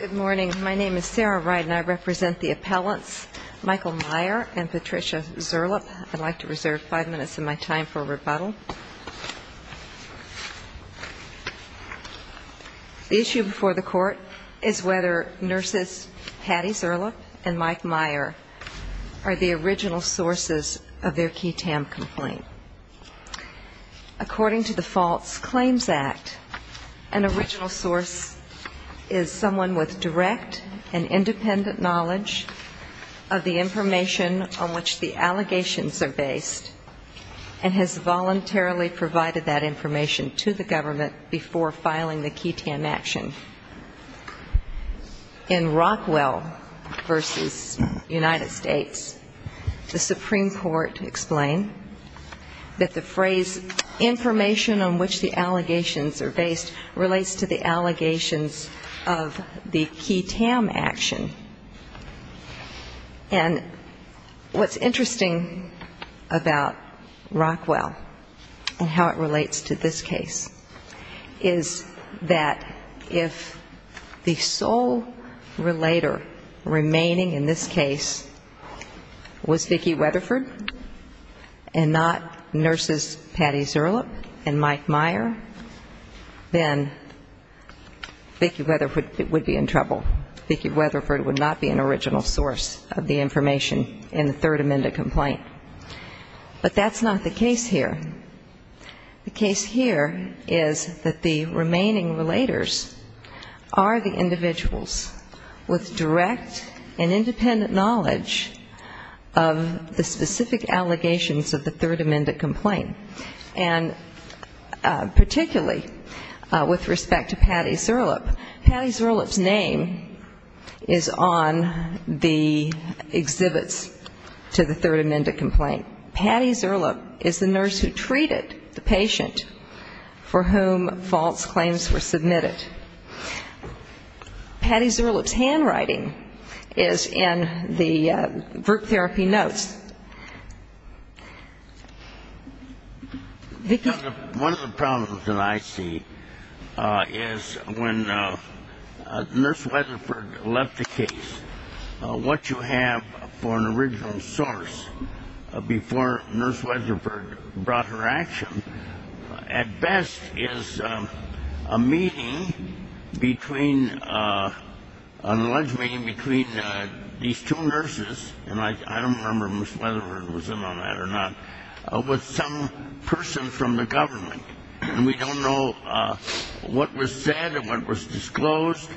Good morning. My name is Sarah Wright and I represent the appellants Michael Meyer and Patricia Zerlup. I'd like to reserve five minutes of my time for a rebuttal. The issue before the court is whether nurses Patty Zerlup and Mike Meyer are the original sources of their QI-TAM complaint. According to the Faults Claims Act, an original source is someone with direct and independent knowledge of the information on which the allegations are based and has voluntarily provided that information to the government before filing the QI-TAM action. In Rockwell v. United States, the Supreme Court explained that the phrase, information on which the allegations are based, relates to the allegations of the QI-TAM action. And what's interesting about Rockwell and how it relates to this case is that if the sole relator remaining in this case was Vicki Weatherford and not nurses Patty Zerlup and Mike Meyer, then Vicki Weatherford would be in trouble. Vicki Weatherford would not be an original source of the information in the Third Amendment complaint. But that's not the case here. The case here is that the remaining relators are the individuals with direct and independent knowledge of the specific allegations of the Third Amendment complaint. And particularly with respect to Patty Zerlup, Patty Zerlup's name is on the exhibits to the Third Amendment complaint. Patty Zerlup is the nurse who treated the patient for whom false claims were submitted. Patty Zerlup's handwriting is in the group therapy notes. One of the problems that I see is when Nurse Weatherford left the case, what you have for an original source before Nurse Weatherford brought her action, at best is a meeting between, an alleged meeting between these two nurses, and I don't remember if Miss Weatherford was in on that or not, with some person from the government. And we don't know what was said and what was disclosed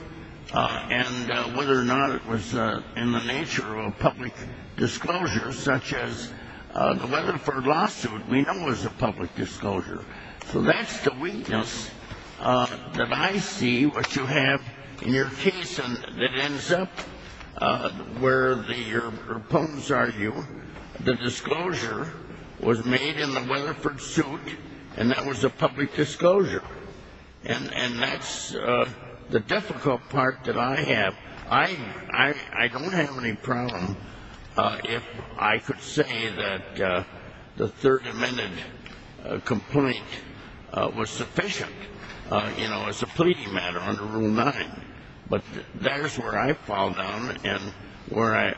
and whether or not it was in the nature of a public disclosure, such as the Weatherford lawsuit we know was a public disclosure. So that's the weakness that I see, which you have in your case that ends up where the proponents argue the disclosure was made in the Weatherford suit and that was a public disclosure. And that's the difficult part that I have. I don't have any problem if I could say that the Third Amendment complaint was sufficient, you know, as a pleading matter under Rule 9. But that is where I fall down and where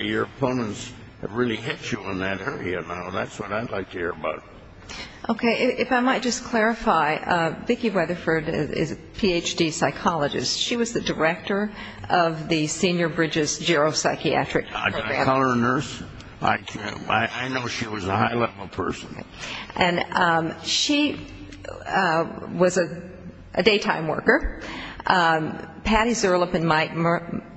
your opponents really hit you in that area now. That's what I'd like to hear about. Okay. If I might just clarify, Vicki Weatherford is a Ph.D. psychologist. She was the director of the Senior Bridges geropsychiatric program. Can I call her a nurse? I can't. I know she was a high level person. And she was a daytime worker. Patty Zerlup and Mike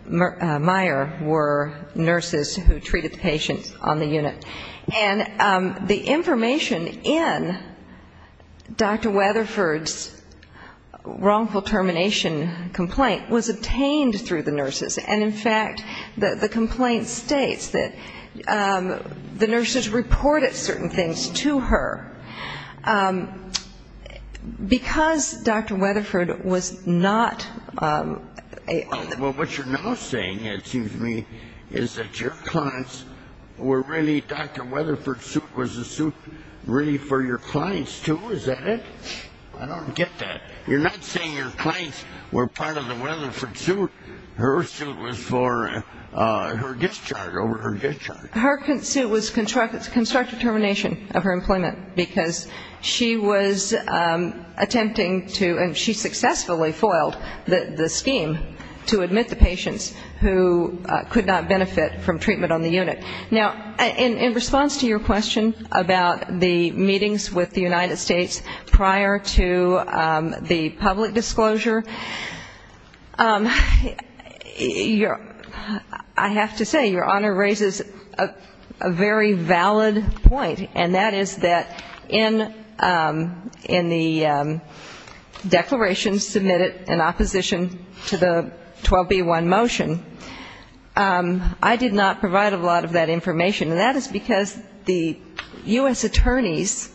Meyer were nurses who treated the patients on the unit. And the information in Dr. Weatherford's wrongful termination complaint was obtained through the nurses. And, in fact, the complaint states that the nurses reported certain things to her. Because Dr. Weatherford was not a – Her suit was constructive termination of her employment because she was attempting to – and she successfully foiled the scheme to admit the patients who could not benefit from treatment on the unit. Now, in response to your question about the meetings with the United States prior to the public disclosure, I have to say your Honor raises a very valid point, and that is that in the declaration submitted in opposition to the 12B1 motion, I did not provide a lot of that information. And that is because the U.S. attorneys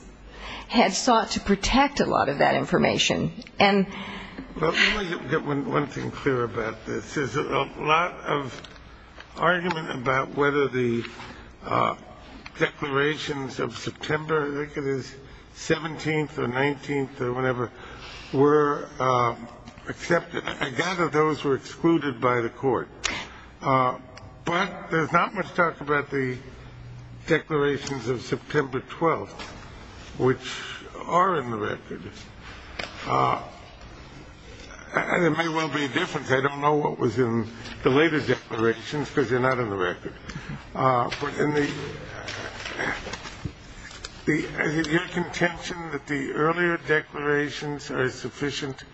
had sought to protect a lot of that information. Well, let me get one thing clear about this. There's a lot of argument about whether the declarations of September – I think it is 17th or 19th or whenever – were accepted. I gather those were excluded by the court. But there's not much talk about the declarations of September 12th, which are in the record. And it may well be different. I don't know what was in the later declarations because they're not in the record. But in the – is it your contention that the earlier declarations are sufficient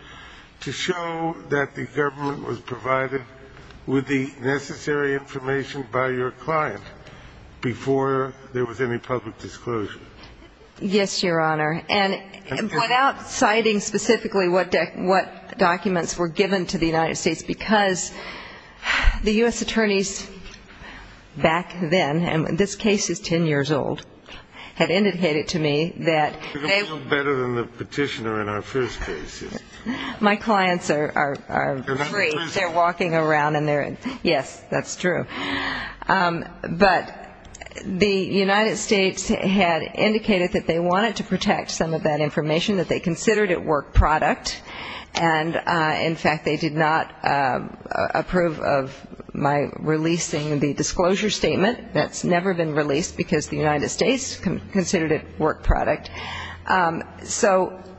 to show that the government was provided with the necessary information by your client before there was any public disclosure? Yes, your Honor. And without citing specifically what documents were given to the United States, because the U.S. attorneys back then – and this case is 10 years old – had indicated to me that they – They were better than the petitioner in our first case. My clients are free. They're walking around and they're – yes, that's true. But the United States had indicated that they wanted to protect some of that information, that they considered it work product. And in fact, they did not approve of my releasing the disclosure statement. That's never been released because the United States considered it work product. So –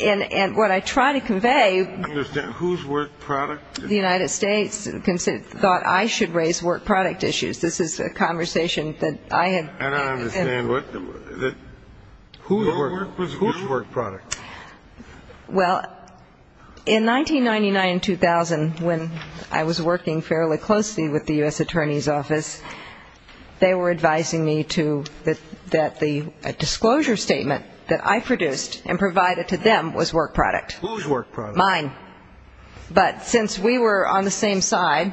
and what I try to convey – I understand. Whose work product? The United States thought I should raise work product issues. This is a conversation that I had – I don't understand. Whose work product? Well, in 1999-2000, when I was working fairly closely with the U.S. Attorney's Office, they were advising me to – that the disclosure statement that I produced and provided to them was work product. Whose work product? Mine. But since we were on the same side,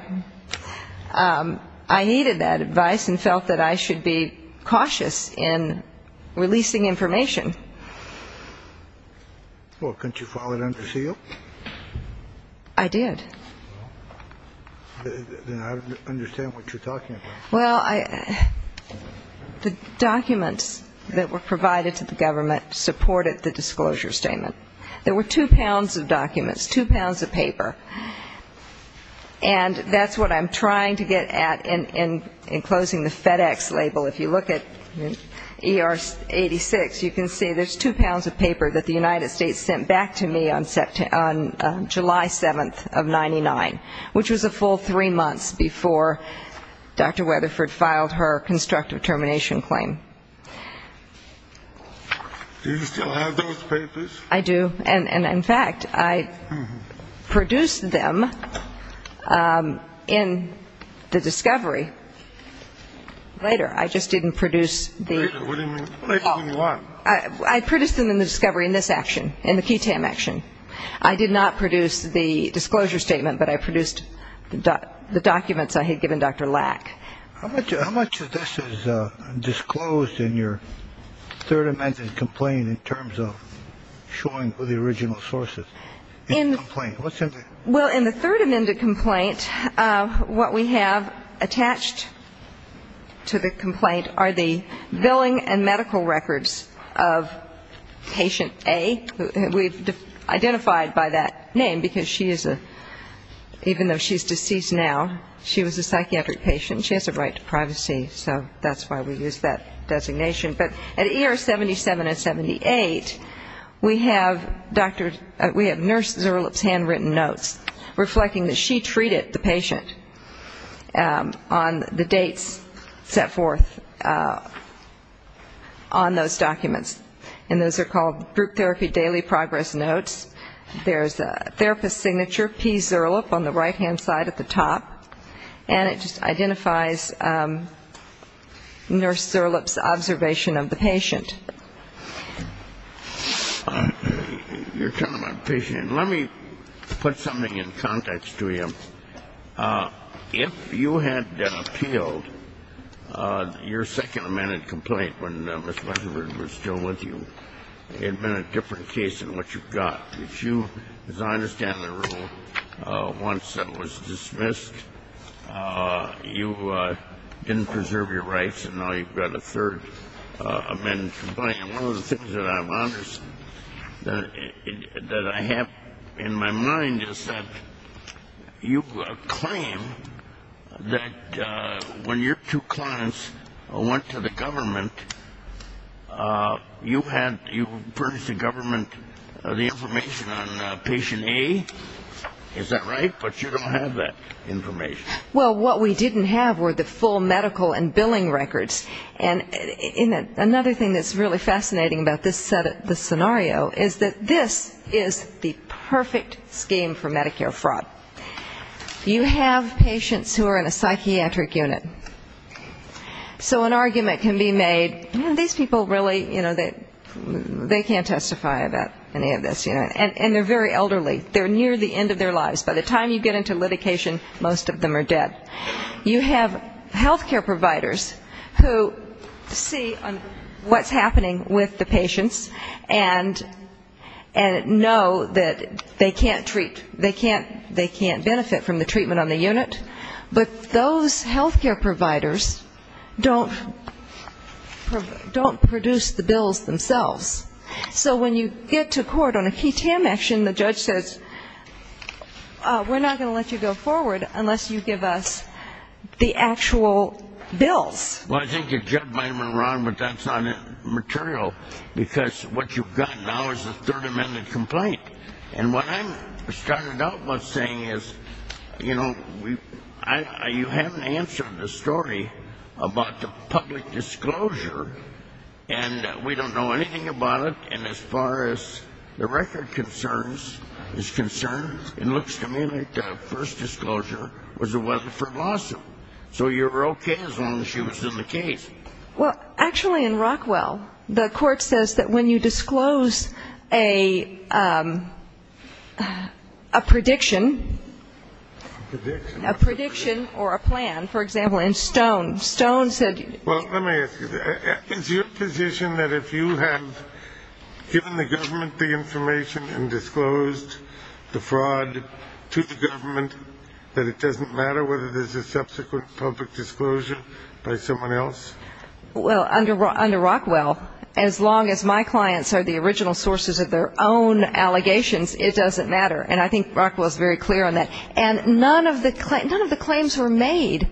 I needed that advice and felt that I should be cautious in releasing information. Well, couldn't you file it under seal? I did. Then I don't understand what you're talking about. Well, the documents that were provided to the government supported the disclosure statement. There were two pounds of documents, two pounds of paper. And that's what I'm trying to get at in closing the FedEx label. If you look at ER 86, you can see there's two pounds of paper that the United States sent back to me on July 7th of 99, which was a full three months before Dr. Weatherford filed her constructive termination claim. Do you still have those papers? I do. And, in fact, I produced them in the discovery later. I just didn't produce the – Later? What do you mean? I produced them in the discovery in this action, in the QTAM action. I did not produce the disclosure statement, but I produced the documents I had given Dr. Lack. How much of this is disclosed in your third amended complaint in terms of showing the original sources in the complaint? Well, in the third amended complaint, what we have attached to the complaint are the billing and medical records of patient A. We've identified by that name, because she is a – even though she's deceased now, she was a psychiatric patient. She has a right to privacy, so that's why we used that designation. But at ER 77 and 78, we have nurse Zuerlup's handwritten notes reflecting that she treated the patient on the dates set forth on those documents. And those are called group therapy daily progress notes. There's a therapist's signature, P. Zuerlup, on the right-hand side at the top, and it just identifies nurse Zuerlup's observation of the patient. You're talking about patient – let me put something in context to you. If you had appealed, your second amended complaint, when Ms. Weinberg was still with you, it had been a different case than what you've got, which you, as I understand the rule, once it was dismissed, you didn't preserve your rights, and now you've got a third amended complaint. One of the things that I have in my mind is that you claim that when your two clients went to the government, you had – you purged the government of the information on patient A. Is that right? But you don't have that information. Well, what we didn't have were the full medical and billing records. And another thing that's really fascinating about this scenario is that this is the perfect scheme for Medicare fraud. You have patients who are in a psychiatric unit. So an argument can be made, these people really, you know, they can't testify about any of this. And they're very elderly. They're near the end of their lives. By the time you get into litigation, most of them are dead. You have health care providers who see what's happening with the patients and know that they can't treat, they can't benefit from the treatment on the unit. But those health care providers don't produce the bills themselves. So when you get to court on a key TAM action, the judge says, we're not going to let you go forward unless you give us the actual bills. Well, I think you're jibbing me, Ron, but that's not material. Because what you've got now is a Third Amendment complaint. And what I'm starting out with saying is, you know, you haven't answered the story about the public disclosure. And we don't know anything about it. And as far as the record concerns, it's concerned, it looks to me like the first disclosure was it wasn't for Lawson. So you're okay as long as she was in the case. Well, actually, in Rockwell, the court says that when you disclose a prediction, a prediction or a plan, for example, in Stone. Well, let me ask you, is your position that if you have given the government the information and disclosed the fraud to the government, that it doesn't matter whether there's a subsequent public disclosure by someone else? Well, under Rockwell, as long as my clients are the original sources of their own allegations, it doesn't matter. And I think Rockwell is very clear on that. And none of the claims were made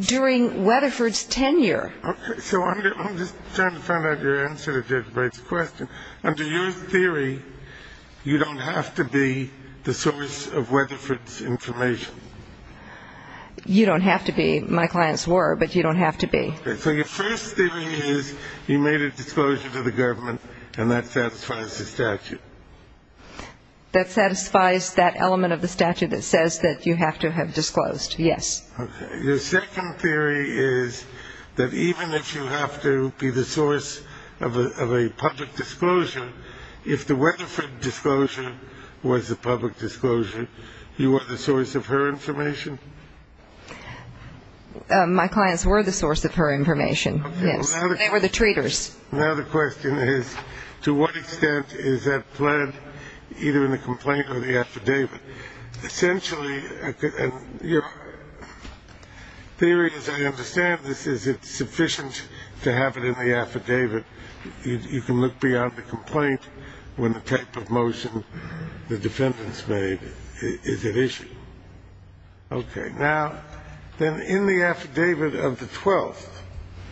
during Weatherford's tenure. Okay. So I'm just trying to find out your answer to Judge Breit's question. Under your theory, you don't have to be the source of Weatherford's information. You don't have to be. My clients were, but you don't have to be. Okay. So your first theory is you made a disclosure to the government, and that satisfies the statute. That satisfies that element of the statute that says that you have to have disclosed, yes. Okay. Your second theory is that even if you have to be the source of a public disclosure, if the Weatherford disclosure was a public disclosure, you were the source of her information? My clients were the source of her information, yes. Okay. They were the traitors. Now the question is, to what extent is that pled either in the complaint or the affidavit? Essentially, your theory, as I understand this, is it sufficient to have it in the affidavit? You can look beyond the complaint when the type of motion the defendants made is at issue. Okay. Now, then in the affidavit of the 12th,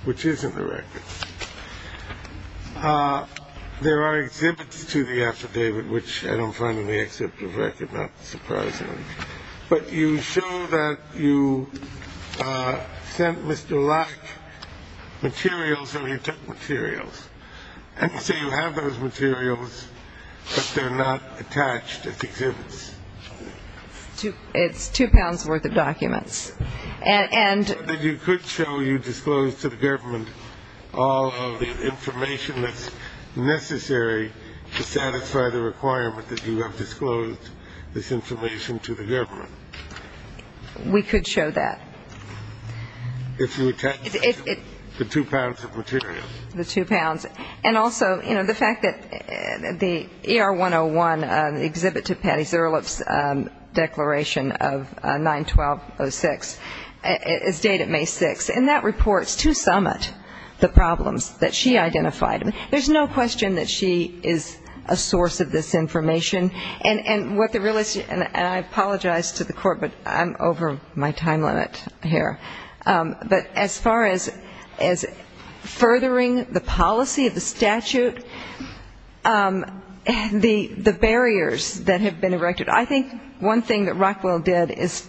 which isn't the record, there are exhibits to the affidavit, which I don't find in the excerpt of the record, not surprisingly. But you show that you sent Mr. Lack materials, or he took materials. And so you have those materials, but they're not attached as exhibits. It's two pounds worth of documents. And you could show you disclosed to the government all of the information that's necessary to satisfy the requirement that you have disclosed this information to the government. We could show that. If you attach the two pounds of materials. And also, you know, the fact that the ER-101, the exhibit to Patty Zuerlup's declaration of 9-12-06, is dated May 6th, and that reports to Summit the problems that she identified. There's no question that she is a source of this information. And I apologize to the Court, but I'm over my time limit here. But as far as furthering the policy of the statute, the barriers that have been erected, I think one thing that Rockwell did is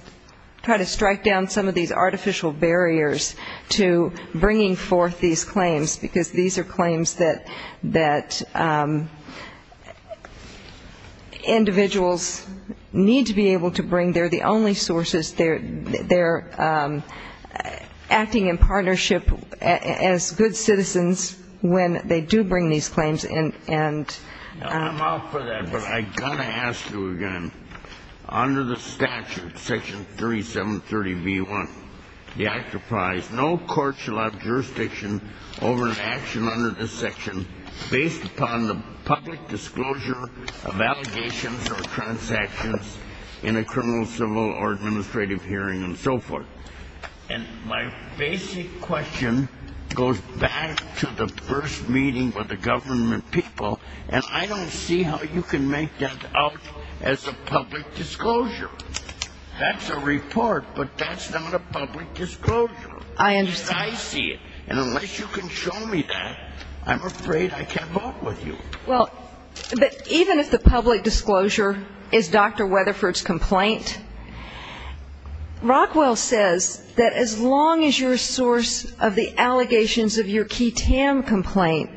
try to strike down some of these artificial barriers to bringing forth these claims, because these are claims that individuals need to be able to bring. They're the only sources. They're acting in partnership as good citizens when they do bring these claims. And I'm out for that, but I've got to ask you again. Under the statute, Section 3730b-1, the act applies, no court shall have jurisdiction over an action under this section based upon the public disclosure of allegations or transactions in a criminal, civil, or administrative hearing and so forth. And my basic question goes back to the first meeting with the government people, and I don't see how you can make that up as a public disclosure. That's a report, but that's not a public disclosure. I understand. As I see it. And unless you can show me that, I'm afraid I can't vote with you. Well, but even if the public disclosure is Dr. Weatherford's complaint, Rockwell says that as long as you're a source of the allegations of your QTAM complaint,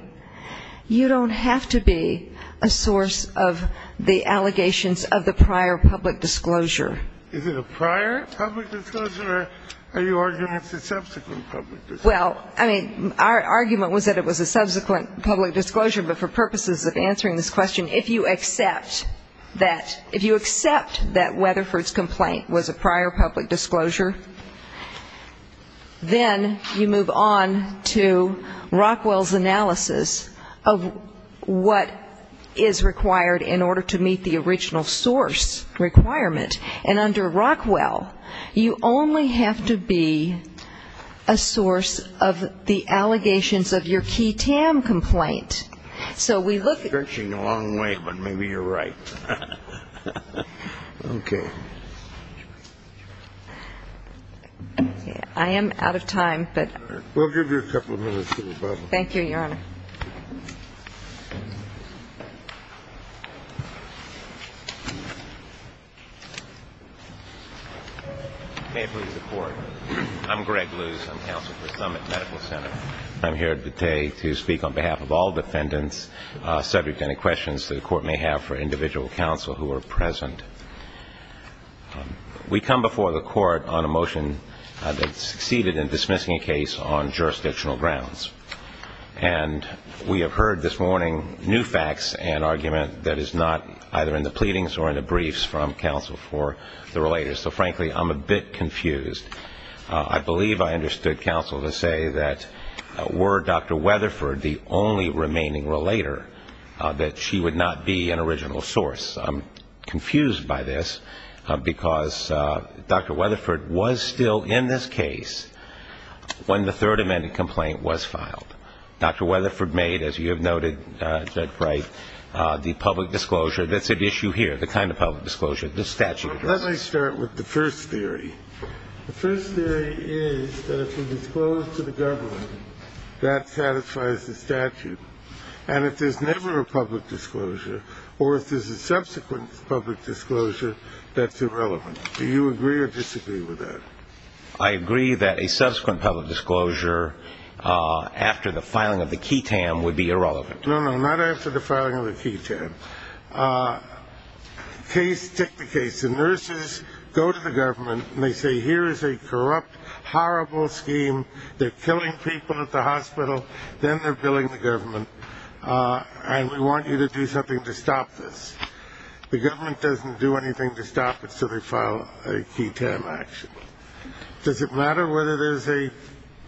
you don't have to be a source of the allegations of the prior public disclosure. Is it a prior public disclosure, or are you arguing it's a subsequent public disclosure? Well, I mean, our argument was that it was a subsequent public disclosure, but for purposes of answering this question, if you accept that, if you accept that Weatherford's complaint was a prior public disclosure, then you move on to Rockwell's analysis of what is required in order to meet the original source requirement. And under Rockwell, you only have to be a source of the allegations of your QTAM complaint. So we look at the original source of the allegations of your QTAM complaint. Stretching a long way, but maybe you're right. Okay. I am out of time, but we'll give you a couple of minutes to rebuttal. Thank you, Your Honor. May it please the Court. I'm Greg Luce. I'm counsel for Summit Medical Center. I'm here today to speak on behalf of all defendants subject to any questions the Court may have for individual counsel who are present. We come before the Court on a motion that succeeded in dismissing a case on jurisdictional grounds. And we have heard this morning new facts and argument that is not either in the pleadings or in the briefs from counsel for the relators. So, frankly, I'm a bit confused. I believe I understood counsel to say that were Dr. Weatherford the only remaining relator, that she would not be an original source. I'm confused by this because Dr. Weatherford was still in this case when the third amended complaint was filed. Dr. Weatherford made, as you have noted, Judge Wright, the public disclosure. That's at issue here, the kind of public disclosure this statute does. Let me start with the first theory. The first theory is that if you disclose to the government, that satisfies the statute. And if there's never a public disclosure or if there's a subsequent public disclosure, that's irrelevant. Do you agree or disagree with that? I agree that a subsequent public disclosure after the filing of the QI-TAM would be irrelevant. No, no, not after the filing of the QI-TAM. Case ticked the case. The nurses go to the government and they say, here is a corrupt, horrible scheme. They're killing people at the hospital. Then they're billing the government. And we want you to do something to stop this. The government doesn't do anything to stop it, so they file a QI-TAM action. Does it matter whether there's a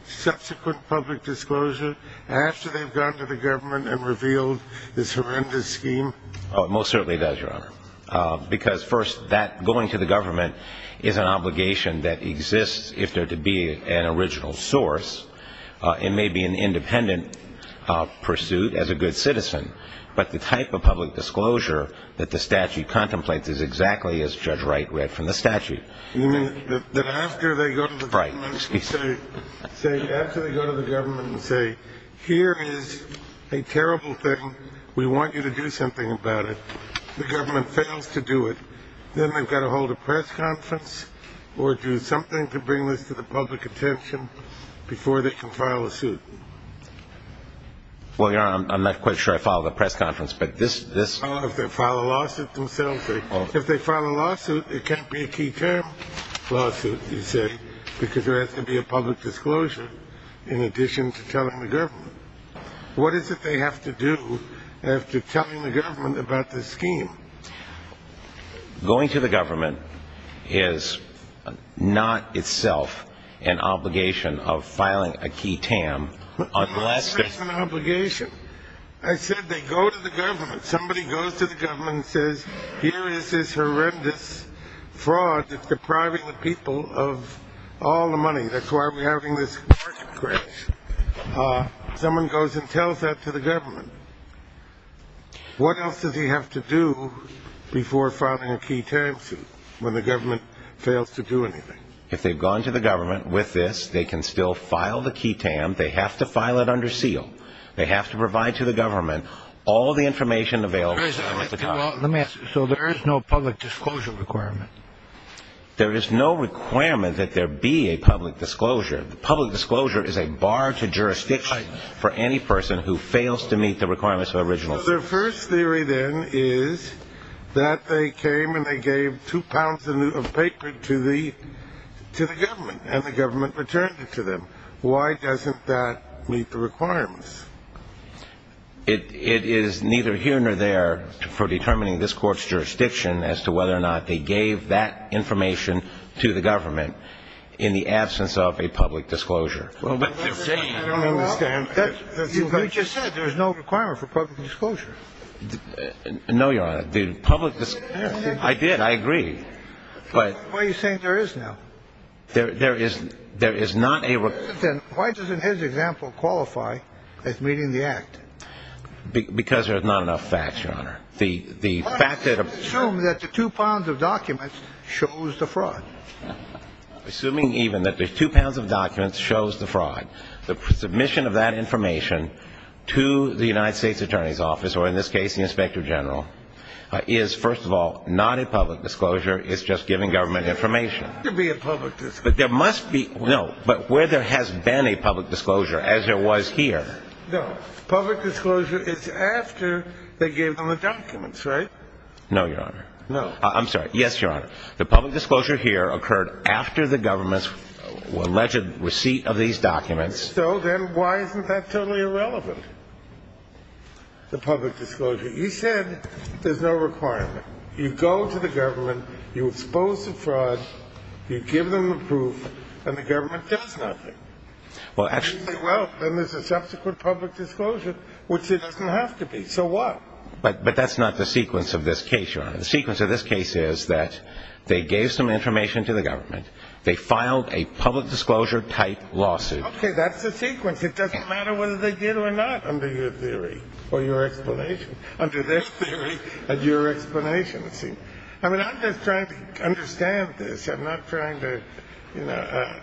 subsequent public disclosure after they've gone to the government and revealed this horrendous scheme? It most certainly does, Your Honor. Because, first, that going to the government is an obligation that exists if there to be an original source. It may be an independent pursuit as a good citizen. But the type of public disclosure that the statute contemplates is exactly as Judge Wright read from the statute. You mean that after they go to the government and say, here is a terrible thing. We want you to do something about it. If the government fails to do it, then they've got to hold a press conference or do something to bring this to the public attention before they can file a suit. Well, Your Honor, I'm not quite sure I filed a press conference, but this... Oh, if they file a lawsuit themselves. If they file a lawsuit, it can't be a QI-TAM lawsuit, you say, because there has to be a public disclosure in addition to telling the government. What is it they have to do after telling the government about this scheme? Going to the government is not itself an obligation of filing a QI-TAM unless... It's an obligation. I said they go to the government. Somebody goes to the government and says, here is this horrendous fraud that's depriving the people of all the money. That's why we're having this market crash. Someone goes and tells that to the government. What else does he have to do before filing a QI-TAM suit when the government fails to do anything? If they've gone to the government with this, they can still file the QI-TAM. They have to file it under seal. They have to provide to the government all the information available to them at the time. Let me ask you, so there is no public disclosure requirement? There is no requirement that there be a public disclosure. The public disclosure is a bar to jurisdiction for any person who fails to meet the requirements of original... So their first theory then is that they came and they gave two pounds of paper to the government, and the government returned it to them. Why doesn't that meet the requirements? It is neither here nor there for determining this court's jurisdiction as to whether or not they gave that information to the government in the absence of a public disclosure. I don't understand. You just said there's no requirement for public disclosure. No, Your Honor. I did. I agree. Why are you saying there is now? There is not a... Then why doesn't his example qualify as meeting the act? Because there's not enough facts, Your Honor. Assume that the two pounds of documents shows the fraud. Assuming even that the two pounds of documents shows the fraud, the submission of that information to the United States Attorney's Office, or in this case the Inspector General, is, first of all, not a public disclosure. It's just giving government information. There must be a public disclosure. There must be. No, but where there has been a public disclosure, as there was here... No, public disclosure is after they gave them the documents, right? No, Your Honor. No. I'm sorry. Yes, Your Honor. The public disclosure here occurred after the government's alleged receipt of these documents. So then why isn't that totally irrelevant, the public disclosure? You said there's no requirement. You go to the government, you expose the fraud, you give them the proof, and the government does nothing. Well, then there's a subsequent public disclosure, which there doesn't have to be. So what? But that's not the sequence of this case, Your Honor. The sequence of this case is that they gave some information to the government, they filed a public disclosure-type lawsuit. Okay, that's the sequence. It doesn't matter whether they did or not under your theory or your explanation, under their theory and your explanation, you see. I mean, I'm just trying to understand this. I'm not trying to, you know...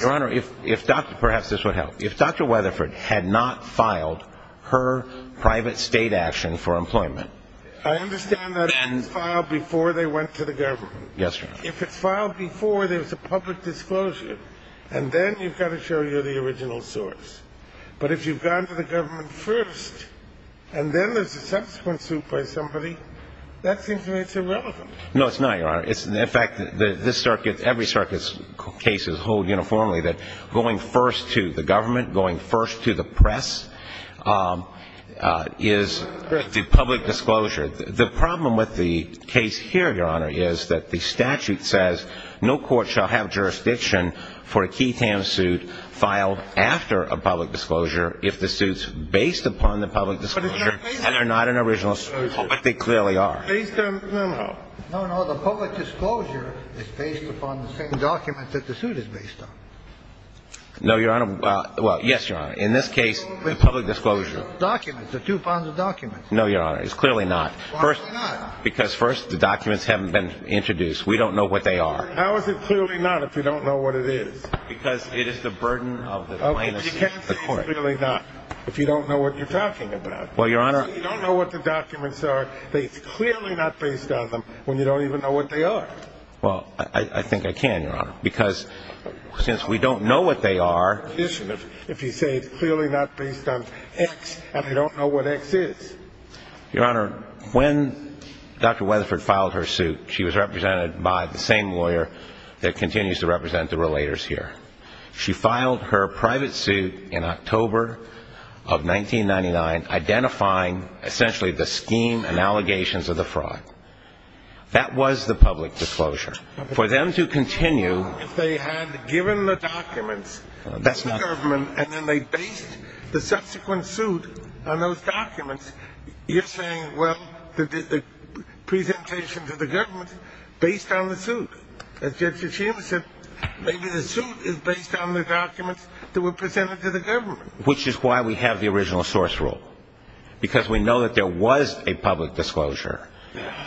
Your Honor, if Dr. Perhaps this would help. If Dr. Weatherford had not filed her private state action for employment... I understand that it was filed before they went to the government. Yes, Your Honor. If it's filed before there's a public disclosure, and then you've got to show you the original source. But if you've gone to the government first, and then there's a subsequent suit by somebody, that seems to me it's irrelevant. No, it's not, Your Honor. In fact, this circuit, every circuit's cases hold uniformly that going first to the government, going first to the press, is the public disclosure. The problem with the case here, Your Honor, is that the statute says no court shall have jurisdiction for a Keith Ham suit filed after a public disclosure if the suit's based upon the public disclosure and they're not an original suit, but they clearly are. No, no. The public disclosure is based upon the same document that the suit is based on. No, Your Honor. Well, yes, Your Honor. In this case, the public disclosure. Documents. There are two kinds of documents. No, Your Honor. It's clearly not. Why not? Because first, the documents haven't been introduced. We don't know what they are. How is it clearly not if you don't know what it is? Because it is the burden of the plaintiff's court. Okay, but you can't say it's clearly not if you don't know what you're talking about. Well, Your Honor... You can't say it's clearly not based on them when you don't even know what they are. Well, I think I can, Your Honor, because since we don't know what they are... If you say it's clearly not based on X and I don't know what X is. Your Honor, when Dr. Weatherford filed her suit, she was represented by the same lawyer that continues to represent the relators here. She filed her private suit in October of 1999, identifying essentially the scheme and allegations of the fraud. That was the public disclosure. For them to continue... Well, if they had given the documents to the government and then they based the subsequent suit on those documents, you're saying, well, the presentation to the government based on the suit. As Judge Hashima said, maybe the suit is based on the documents that were presented to the government. Which is why we have the original source rule, because we know that there was a public disclosure.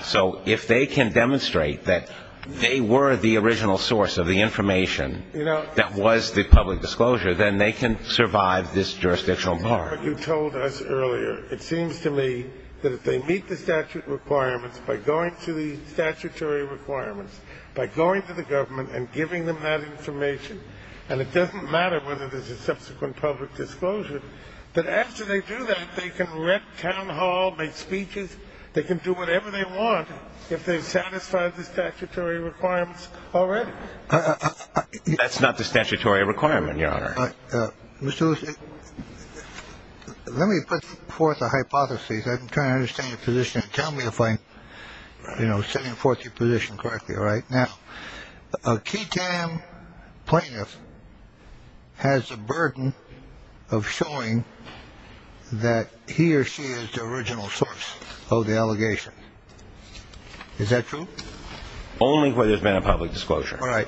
So if they can demonstrate that they were the original source of the information that was the public disclosure, then they can survive this jurisdictional bar. But you told us earlier, it seems to me, that if they meet the statute requirements by going to the statutory requirements, by going to the government and giving them that information, and it doesn't matter whether there's a subsequent public disclosure, that after they do that, they can wreck town hall, make speeches. They can do whatever they want if they've satisfied the statutory requirements already. That's not the statutory requirement, Your Honor. Mr. Lewis, let me put forth a hypothesis. I'm trying to understand your position. Tell me if I'm setting forth your position correctly. Now, a KTAM plaintiff has a burden of showing that he or she is the original source of the allegation. Is that true? Only where there's been a public disclosure. All right.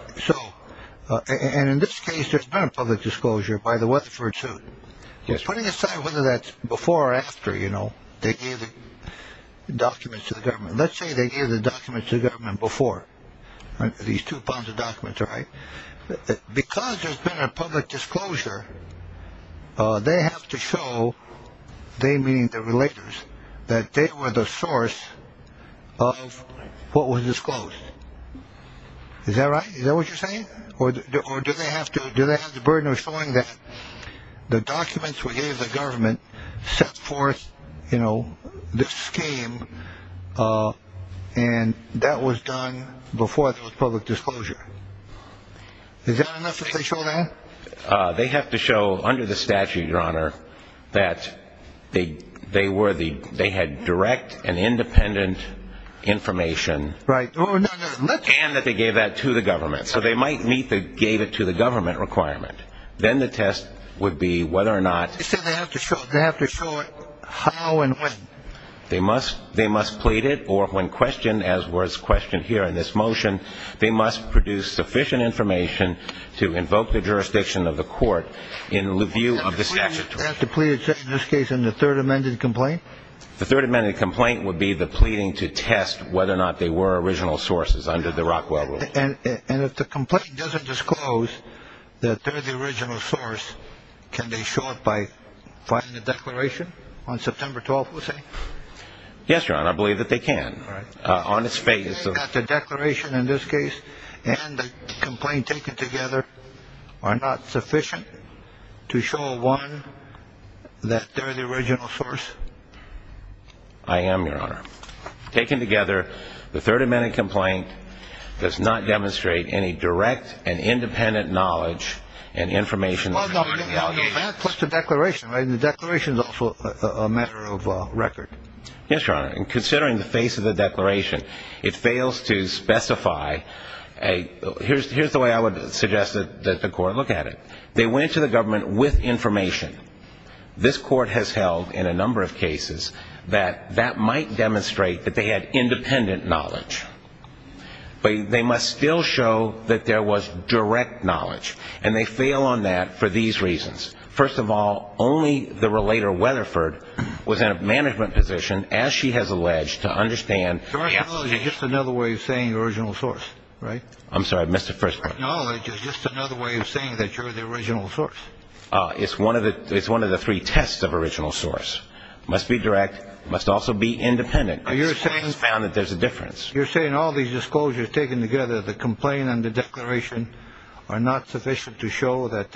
And in this case, there's been a public disclosure by the Weatherford suit. Yes, Your Honor. Now, whether that's before or after, you know, they gave the documents to the government. Let's say they gave the documents to the government before. These two pounds of documents, right? Because there's been a public disclosure, they have to show, they meaning the relators, that they were the source of what was disclosed. Is that right? Is that what you're saying? Or do they have to, do they have the burden of showing that the documents we gave the government set forth, you know, this scheme and that was done before there was public disclosure? Is that enough that they show that? They have to show under the statute, Your Honor, that they had direct and independent information. Right. And that they gave that to the government. So they might meet the gave it to the government requirement. Then the test would be whether or not. You said they have to show it. They have to show it how and when. They must plead it or when questioned, as was questioned here in this motion, they must produce sufficient information to invoke the jurisdiction of the court in the view of the statute. They have to plead it, in this case, in the third amended complaint? The third amended complaint would be the pleading to test whether or not they were original sources under the Rockwell rule. And if the complaint doesn't disclose that they're the original source, can they show it by filing a declaration on September 12th, you say? Yes, Your Honor. I believe that they can. All right. On its face. The declaration in this case and the complaint taken together are not sufficient to show one that they're the original source? I am, Your Honor. Taken together, the third amended complaint does not demonstrate any direct and independent knowledge and information. Plus the declaration. The declaration is also a matter of record. Yes, Your Honor. And considering the face of the declaration, it fails to specify. Here's the way I would suggest that the court look at it. They went to the government with information. This Court has held in a number of cases that that might demonstrate that they had independent knowledge. But they must still show that there was direct knowledge. And they fail on that for these reasons. First of all, only the relator Weatherford was in a management position, as she has alleged, to understand. Direct knowledge is just another way of saying original source, right? I'm sorry. I missed the first part. Direct knowledge is just another way of saying that you're the original source. It's one of the three tests of original source. It must be direct. It must also be independent. This Court has found that there's a difference. You're saying all these disclosures taken together, the complaint and the declaration, are not sufficient to show that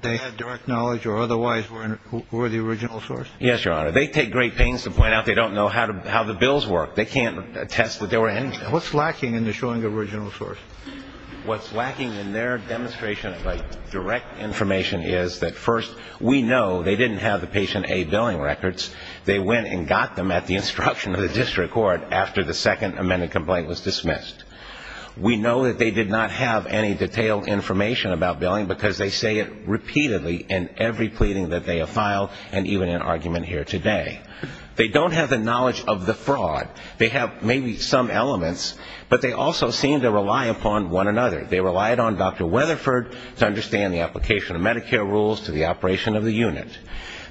they had direct knowledge or otherwise were the original source? Yes, Your Honor. They take great pains to point out they don't know how the bills work. They can't attest that they were in. What's lacking in the showing original source? What's lacking in their demonstration of direct information is that, first, we know they didn't have the patient aid billing records. They went and got them at the instruction of the district court after the second amended complaint was dismissed. We know that they did not have any detailed information about billing because they say it repeatedly in every pleading that they have filed and even in argument here today. They don't have the knowledge of the fraud. They have maybe some elements, but they also seem to rely upon one another. They relied on Dr. Weatherford to understand the application of Medicare rules to the operation of the unit.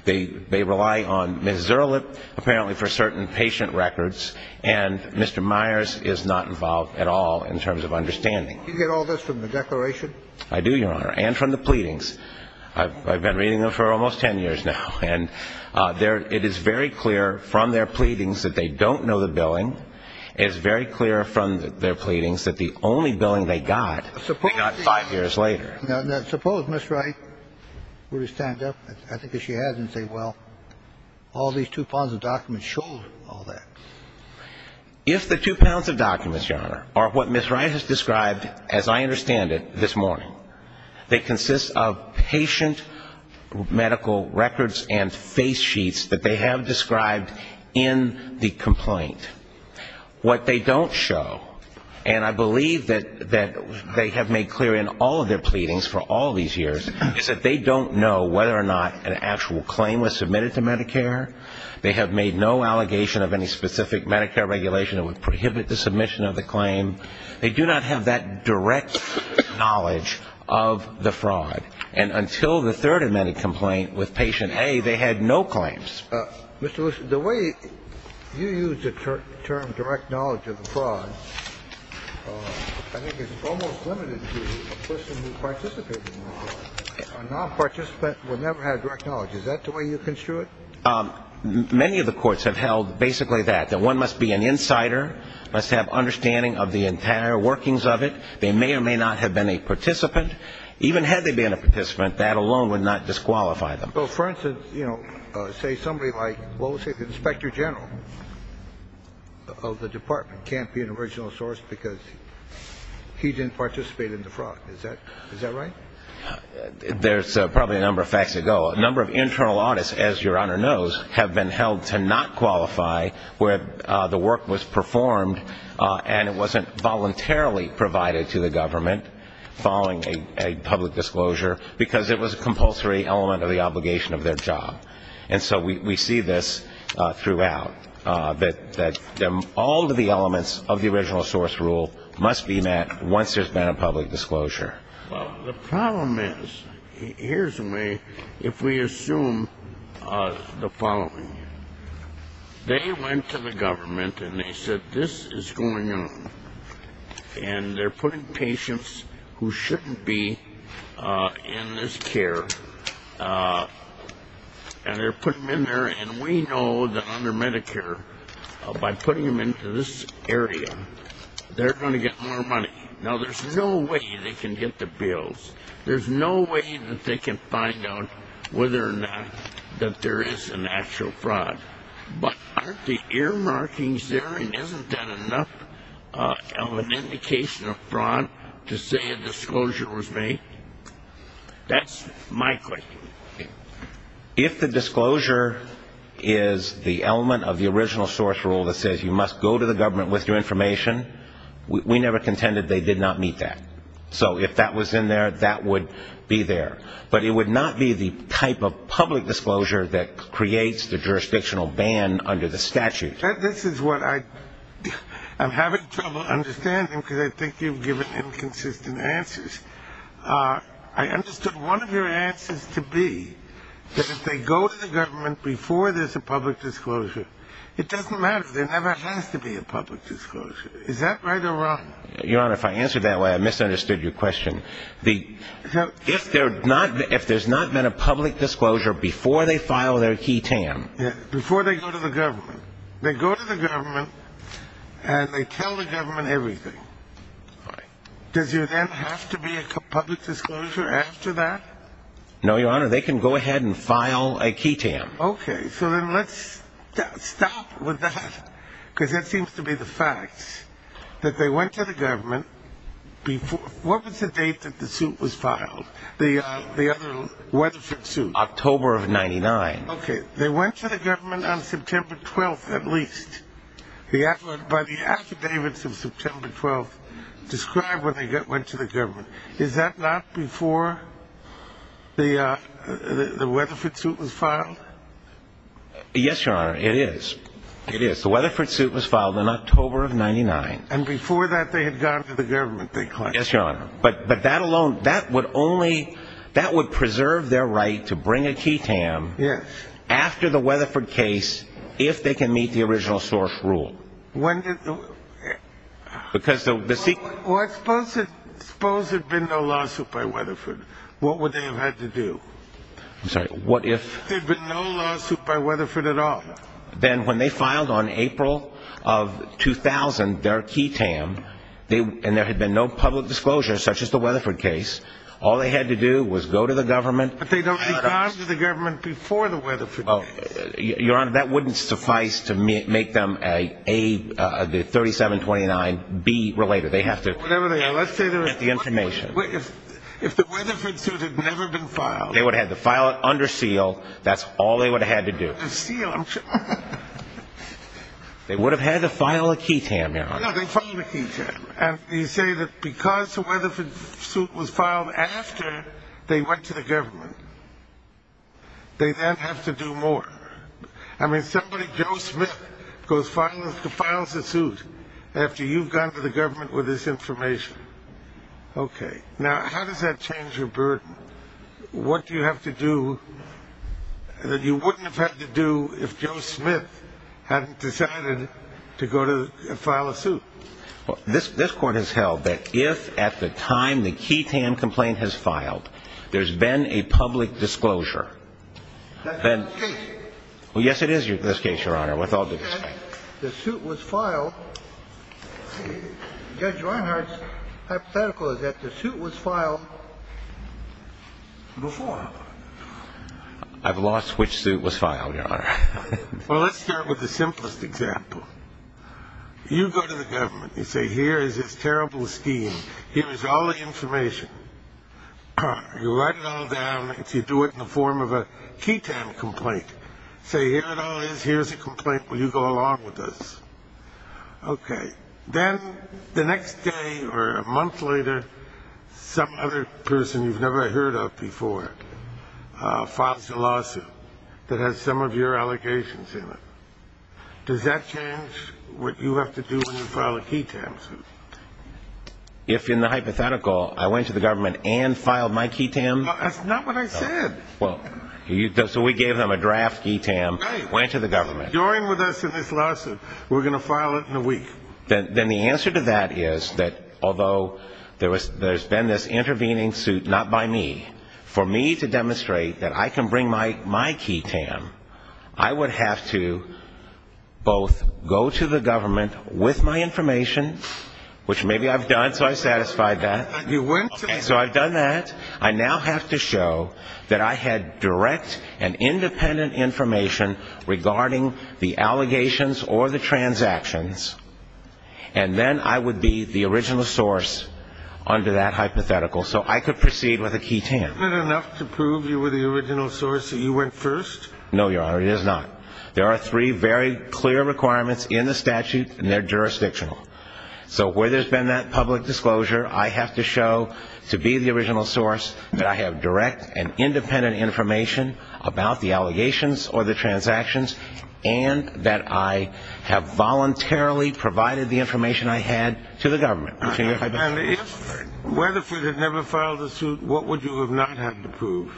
They rely on Ms. Zirlip apparently for certain patient records, and Mr. Myers is not involved at all in terms of understanding. Do you get all this from the declaration? I do, Your Honor, and from the pleadings. I've been reading them for almost 10 years now, and it is very clear from their pleadings that they don't know the billing. It is very clear from their pleadings that the only billing they got, they got five years later. Now, suppose Ms. Wright were to stand up, I think as she has, and say, well, all these two pounds of documents show all that. If the two pounds of documents, Your Honor, are what Ms. Wright has described, as I understand it, this morning, they consist of patient medical records and face sheets that they have described in the complaint. What they don't show, and I believe that they have made clear in all of their pleadings for all these years, is that they don't know whether or not an actual claim was submitted to Medicare. They have made no allegation of any specific Medicare regulation that would prohibit the submission of the claim. They do not have that direct knowledge of the fraud. And until the third amended complaint with patient A, they had no claims. Mr. Lewis, the way you use the term direct knowledge of the fraud, I think it's almost limited to the person who participated in the fraud. A nonparticipant would never have direct knowledge. Is that the way you construe it? Many of the courts have held basically that, that one must be an insider, must have understanding of the entire workings of it. They may or may not have been a participant. Even had they been a participant, that alone would not disqualify them. Well, for instance, you know, say somebody like, well, say the inspector general of the department can't be an original source because he didn't participate in the fraud. Is that right? There's probably a number of facts to go. A number of internal audits, as Your Honor knows, have been held to not qualify where the work was performed and it wasn't voluntarily provided to the government following a public disclosure because it was a compulsory element of the obligation of their job. And so we see this throughout, that all of the elements of the original source rule must be met once there's been a public disclosure. Well, the problem is, here's the way, if we assume the following. They went to the government and they said, this is going on, and they're putting patients who shouldn't be in this care, and they're putting them in there, and we know that under Medicare, by putting them into this area, they're going to get more money. Now, there's no way they can get the bills. There's no way that they can find out whether or not that there is an actual fraud. But aren't the ear markings there, and isn't that enough of an indication of fraud to say a disclosure was made? That's my question. If the disclosure is the element of the original source rule that says you must go to the government with your information, we never contended they did not meet that. So if that was in there, that would be there. But it would not be the type of public disclosure that creates the jurisdictional ban under the statute. This is what I'm having trouble understanding, because I think you've given inconsistent answers. I understood one of your answers to be that if they go to the government before there's a public disclosure, it doesn't matter. There never has to be a public disclosure. Is that right or wrong? Your Honor, if I answered that way, I misunderstood your question. If there's not been a public disclosure before they file their QI-TAM. Before they go to the government. They go to the government, and they tell the government everything. Does there then have to be a public disclosure after that? No, Your Honor. They can go ahead and file a QI-TAM. Okay. So then let's stop with that, because that seems to be the facts. That they went to the government before. What was the date that the suit was filed? The other Weatherford suit. October of 99. Okay. They went to the government on September 12th at least. By the affidavits of September 12th described when they went to the government. Is that not before the Weatherford suit was filed? Yes, Your Honor, it is. It is. The Weatherford suit was filed in October of 99. And before that they had gone to the government, they claim. Yes, Your Honor. But that alone, that would only, that would preserve their right to bring a QI-TAM. Yes. After the Weatherford case, if they can meet the original source rule. When did the? Because the secret. Well, I suppose there had been no lawsuit by Weatherford. What would they have had to do? I'm sorry, what if? There had been no lawsuit by Weatherford at all. Then when they filed on April of 2000 their QI-TAM, and there had been no public disclosure such as the Weatherford case, all they had to do was go to the government. But they had gone to the government before the Weatherford case. Well, Your Honor, that wouldn't suffice to make them A, the 3729, B related. They have to. Whatever they are, let's say they were. Get the information. If the Weatherford suit had never been filed. They would have had to file it under seal. That's all they would have had to do. Under seal, I'm sure. They would have had to file a QI-TAM, Your Honor. No, they filed a QI-TAM. And you say that because the Weatherford suit was filed after they went to the government, they then have to do more. I mean, somebody, Joe Smith, goes and files a suit after you've gone to the government with this information. Okay. Now, how does that change your burden? What do you have to do that you wouldn't have had to do if Joe Smith hadn't decided to go and file a suit? This Court has held that if at the time the QI-TAM complaint has filed, there's been a public disclosure. That's not the case. Yes, it is the case, Your Honor, with all due respect. The suit was filed. Judge Reinhardt's hypothetical is that the suit was filed before. I've lost which suit was filed, Your Honor. Well, let's start with the simplest example. You go to the government. You say, here is this terrible scheme. Here is all the information. You write it all down. You do it in the form of a QI-TAM complaint. Say, here it all is. Here's a complaint. Will you go along with this? Okay. Then the next day or a month later, some other person you've never heard of before files a lawsuit that has some of your allegations in it. Does that change what you have to do when you file a QI-TAM suit? If in the hypothetical I went to the government and filed my QI-TAM? That's not what I said. So we gave them a draft QI-TAM, went to the government. Join with us in this lawsuit. We're going to file it in a week. Then the answer to that is that although there's been this intervening suit, not by me, for me to demonstrate that I can bring my QI-TAM, I would have to both go to the government with my information, which maybe I've done, so I satisfied that. You went to the government. So I've done that. I now have to show that I had direct and independent information regarding the allegations or the transactions, and then I would be the original source under that hypothetical, so I could proceed with a QI-TAM. Isn't it enough to prove you were the original source, that you went first? No, Your Honor, it is not. There are three very clear requirements in the statute, and they're jurisdictional. So where there's been that public disclosure, I have to show to be the original source that I have direct and independent information about the allegations or the transactions, and that I have voluntarily provided the information I had to the government. And if Weatherford had never filed a suit, what would you have not had to prove?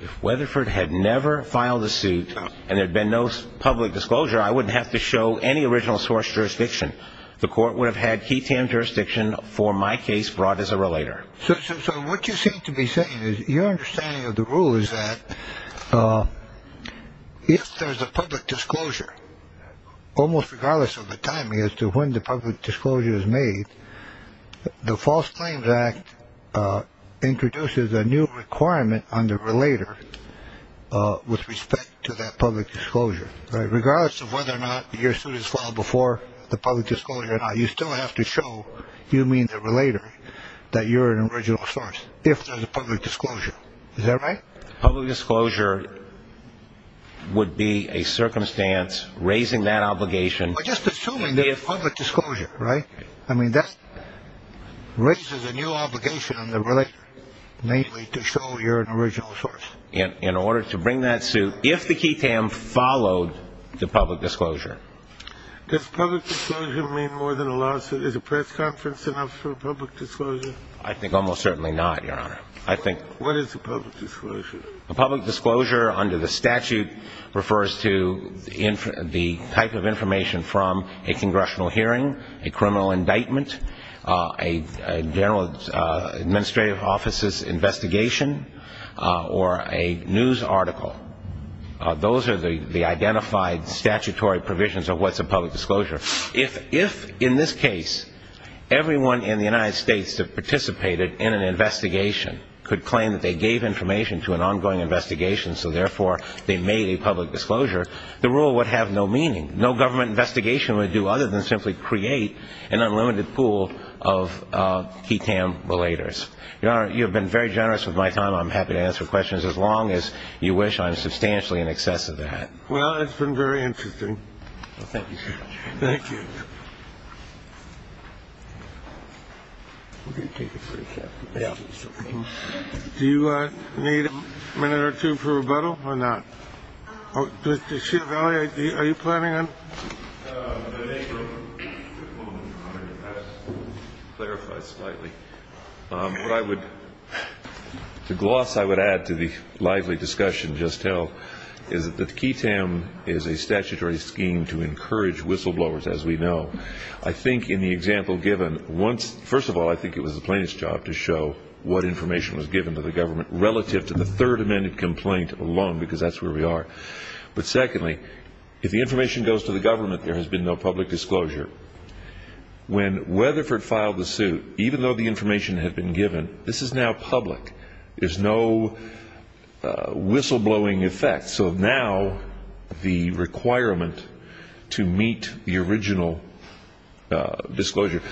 If Weatherford had never filed a suit and there had been no public disclosure, I wouldn't have to show any original source jurisdiction. The court would have had QI-TAM jurisdiction for my case brought as a relator. So what you seem to be saying is your understanding of the rule is that if there's a public disclosure, almost regardless of the time, as to when the public disclosure is made, the False Claims Act introduces a new requirement on the relator with respect to that public disclosure. Regardless of whether or not your suit is filed before the public disclosure or not, you still have to show you mean the relator that you're an original source if there's a public disclosure. Is that right? Public disclosure would be a circumstance raising that obligation. Well, just assuming there's public disclosure, right? I mean, that raises a new obligation on the relator, namely, to show you're an original source. In order to bring that suit, if the QI-TAM followed the public disclosure. Does public disclosure mean more than a lawsuit? Is a press conference enough for a public disclosure? I think almost certainly not, Your Honor. What is a public disclosure? A public disclosure under the statute refers to the type of information from a congressional hearing, a criminal indictment, a general administrative office's investigation, or a news article. Those are the identified statutory provisions of what's a public disclosure. If, in this case, everyone in the United States that participated in an investigation could claim that they gave information to an ongoing investigation, so therefore they made a public disclosure, the rule would have no meaning. No government investigation would do other than simply create an unlimited pool of QI-TAM relators. Your Honor, you have been very generous with my time. I'm happy to answer questions as long as you wish. I'm substantially in excess of that. Well, it's been very interesting. Thank you. Thank you. Thank you. Do you need a minute or two for rebuttal or not? Mr. Ciavalli, are you planning on? To clarify slightly, what I would, to gloss I would add to the lively discussion just now, is that the QI-TAM is a statutory scheme to encourage whistleblowers, as we know. I think in the example given, first of all, I think it was the plaintiff's job to show what information was given to the government relative to the Third Amendment complaint alone, because that's where we are. But secondly, if the information goes to the government, there has been no public disclosure. When Weatherford filed the suit, even though the information had been given, this is now public. There's no whistleblowing effect. So now the requirement to meet the original disclosure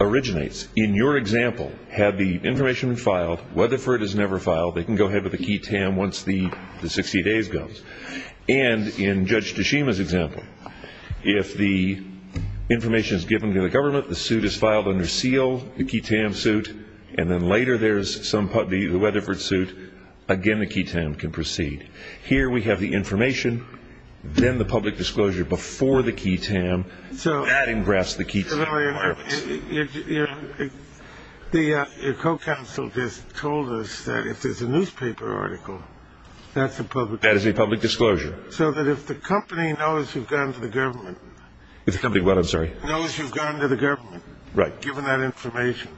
originates. In your example, had the information been filed, Weatherford has never filed, they can go ahead with the QI-TAM once the 60 days goes. And in Judge Tashima's example, if the information is given to the government, the suit is filed under seal, the QI-TAM suit, and then later there's somebody, the Weatherford suit, again the QI-TAM can proceed. Here we have the information, then the public disclosure before the QI-TAM, adding grass to the key to the requirements. Your co-counsel just told us that if there's a newspaper article, that's a public disclosure. That is a public disclosure. So that if the company knows you've gone to the government. The company what, I'm sorry? Knows you've gone to the government. Right. Given that information.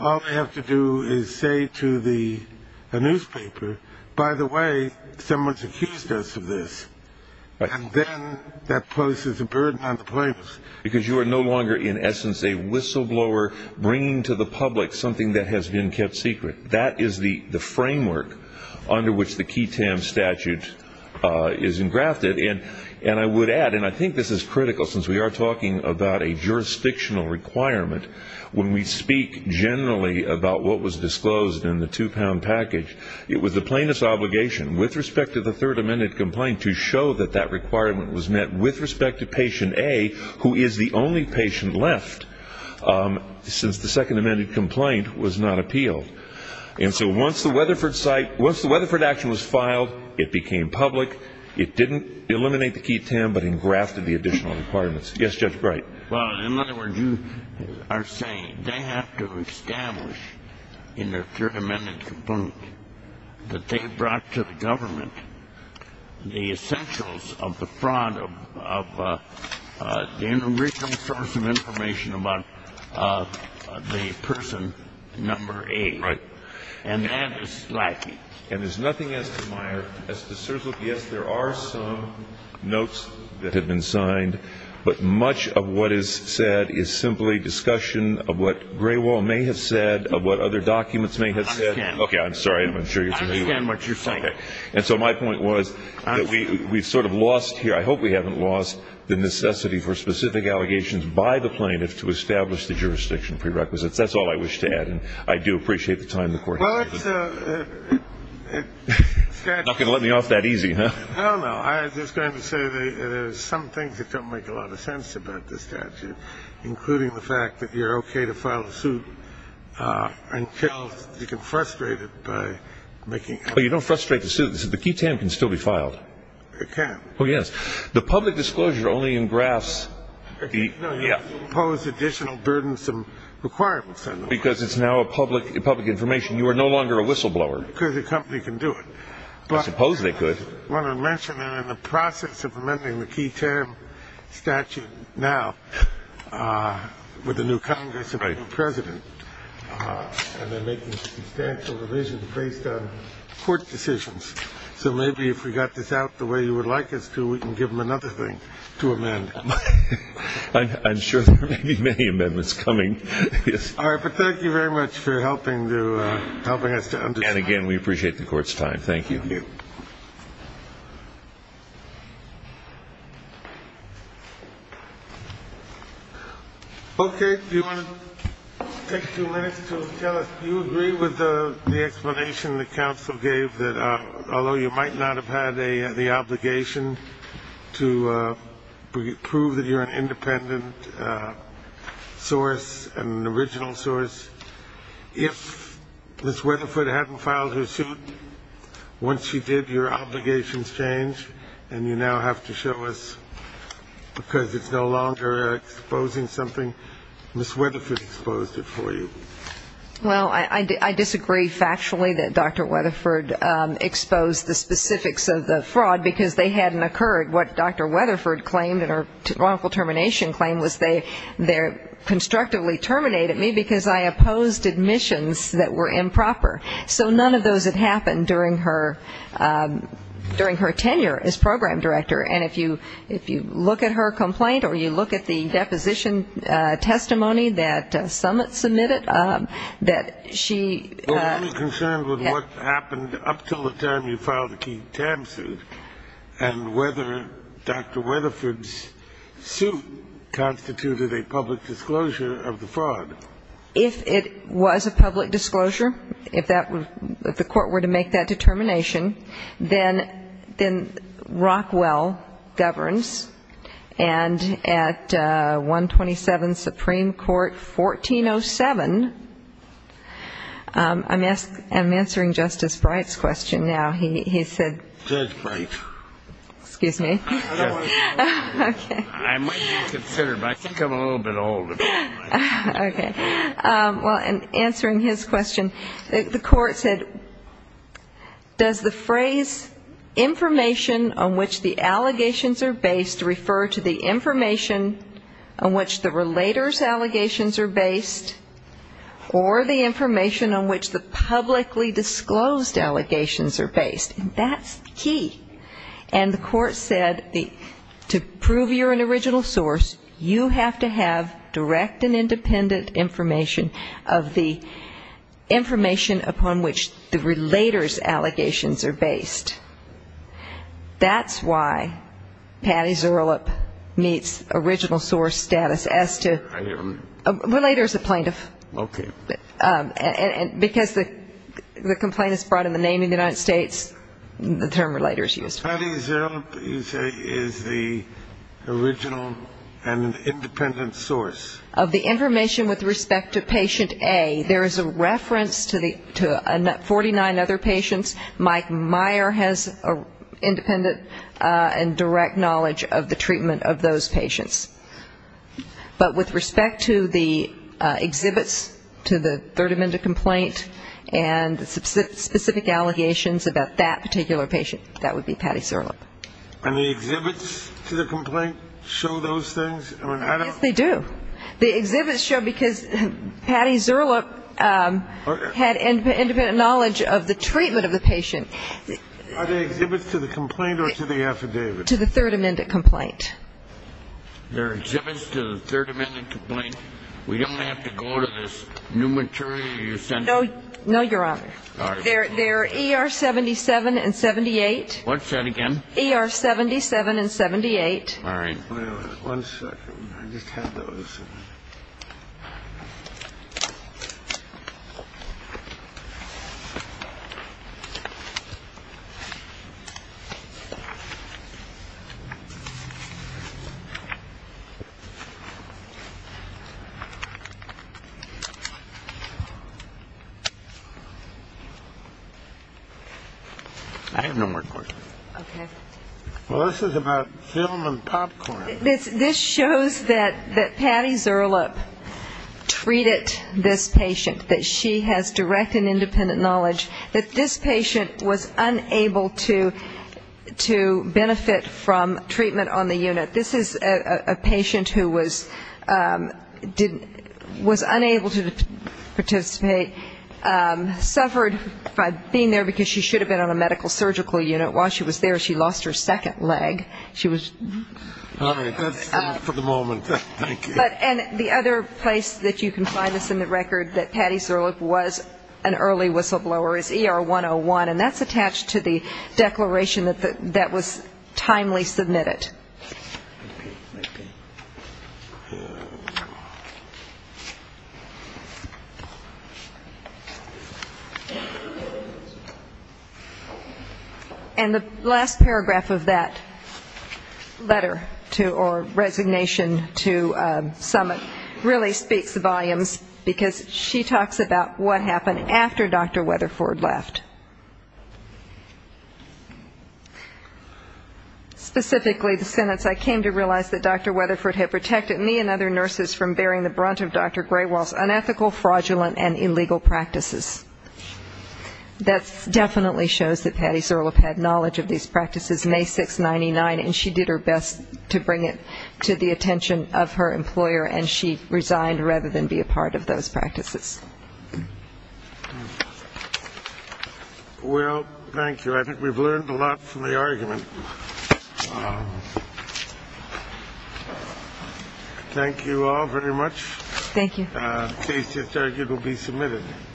All they have to do is say to the newspaper, by the way, someone's accused us of this. And then that poses a burden on the plaintiffs. Because you are no longer in essence a whistleblower bringing to the public something that has been kept secret. That is the framework under which the QI-TAM statute is engrafted. And I would add, and I think this is critical since we are talking about a jurisdictional requirement, when we speak generally about what was disclosed in the two-pound package, it was the plaintiff's obligation with respect to the third amended complaint to show that that requirement was met with respect to patient A, who is the only patient left since the second amended complaint was not appealed. And so once the Weatherford site, once the Weatherford action was filed, it became public. It didn't eliminate the QI-TAM but engrafted the additional requirements. Yes, Judge Bright. Well, in other words, you are saying they have to establish in their third amended complaint that they brought to the government the essentials of the fraud of the original source of information about the person number A. Right. And that is lacking. And there is nothing as to Meyer, as to Serzlick. Yes, there are some notes that have been signed, but much of what is said is simply discussion of what Graywall may have said, of what other documents may have said. I understand. Okay. I'm sorry. I'm not sure you can hear me. I understand what you're saying. Okay. And so my point was that we sort of lost here. I hope we haven't lost the necessity for specific allegations by the plaintiff to establish the jurisdiction prerequisites. That's all I wish to add. And I do appreciate the time the Court has given. Well, it's a statute. Not going to let me off that easy, huh? No, no. I was just going to say there are some things that don't make a lot of sense about this statute, including the fact that you're okay to file a suit until you can frustrate it by making it. Well, you don't frustrate the suit. The key time can still be filed. It can. Oh, yes. The public disclosure only engrafts the... No, you impose additional burdensome requirements on them. Well, because it's now a public information. You are no longer a whistleblower. Because the company can do it. I suppose they could. But I want to mention that in the process of amending the key term statute now with the new Congress and the new president, and they're making substantial revisions based on court decisions. So maybe if we got this out the way you would like us to, we can give them another thing to amend. I'm sure there may be many amendments coming. All right, but thank you very much for helping us to understand. And, again, we appreciate the court's time. Thank you. Thank you. Okay, do you want to take two minutes to tell us, do you agree with the explanation the counsel gave that although you might not have had the obligation to prove that you're an independent source, an original source, if Ms. Weatherford hadn't filed her suit, once she did, your obligations changed, and you now have to show us because it's no longer exposing something. Ms. Weatherford exposed it for you. Well, I disagree factually that Dr. Weatherford exposed the specifics of the fraud because they hadn't occurred. What Dr. Weatherford claimed in her wrongful termination claim was they constructively terminated me because I opposed admissions that were improper. So none of those had happened during her tenure as program director. And if you look at her complaint or you look at the deposition testimony that Summit submitted, that she --. And whether Dr. Weatherford's suit constituted a public disclosure of the fraud. If it was a public disclosure, if the court were to make that determination, then Rockwell governs. And at 127 Supreme Court 1407, I'm answering Justice Bright's question now. Judge Bright. Excuse me? I might not consider it, but I think I'm a little bit old. Okay. Well, in answering his question, the court said, does the phrase information on which the allegations are based refer to the information on which the relator's allegations are based or the information on which the publicly disclosed allegations are based? And that's the key. And the court said to prove you're an original source, you have to have direct and independent information of the information upon which the relator's allegations are based. That's why Patti Zuerlup meets original source status as to --. Relator is a plaintiff. Okay. Because the complaint is brought in the name of the United States, the term relator is used. Patti Zuerlup, you say, is the original and independent source. Of the information with respect to patient A, there is a reference to 49 other patients. Mike Meyer has independent and direct knowledge of the treatment of those patients. But with respect to the exhibits to the Third Amendment complaint and the specific allegations about that particular patient, that would be Patti Zuerlup. And the exhibits to the complaint show those things? Yes, they do. The exhibits show because Patti Zuerlup had independent knowledge of the treatment of the patient. Are the exhibits to the complaint or to the affidavit? To the Third Amendment complaint. They're exhibits to the Third Amendment complaint. We don't have to go to this new material you sent? No, Your Honor. All right. They're ER 77 and 78. What's that again? ER 77 and 78. All right. One second. I just had those. I have no more questions. Okay. Well, this is about film and popcorn. This shows that Patti Zuerlup treated this patient, that she has direct and independent knowledge, that this patient was unable to benefit from treatment on the unit. This is a patient who was unable to participate, suffered by being there because she should have been on a medical surgical unit. While she was there, she lost her second leg. All right. That's enough for the moment. Thank you. And the other place that you can find this in the record, that Patti Zuerlup was an early whistleblower, is ER 101. And that's attached to the declaration that was timely submitted. And the last paragraph of that letter, or resignation to summit, really speaks volumes, because she talks about what happened after Dr. Weatherford left. I came to realize that Dr. Weatherford had protected me and other nurses from bearing the brunt of Dr. Graywell's unethical, fraudulent, and illegal practices. That definitely shows that Patti Zuerlup had knowledge of these practices May 6, 99, and she did her best to bring it to the attention of her employer, and she resigned rather than be a part of those practices. Well, thank you. I think we've learned a lot from the argument. Thank you all very much. Thank you. The case just argued will be submitted.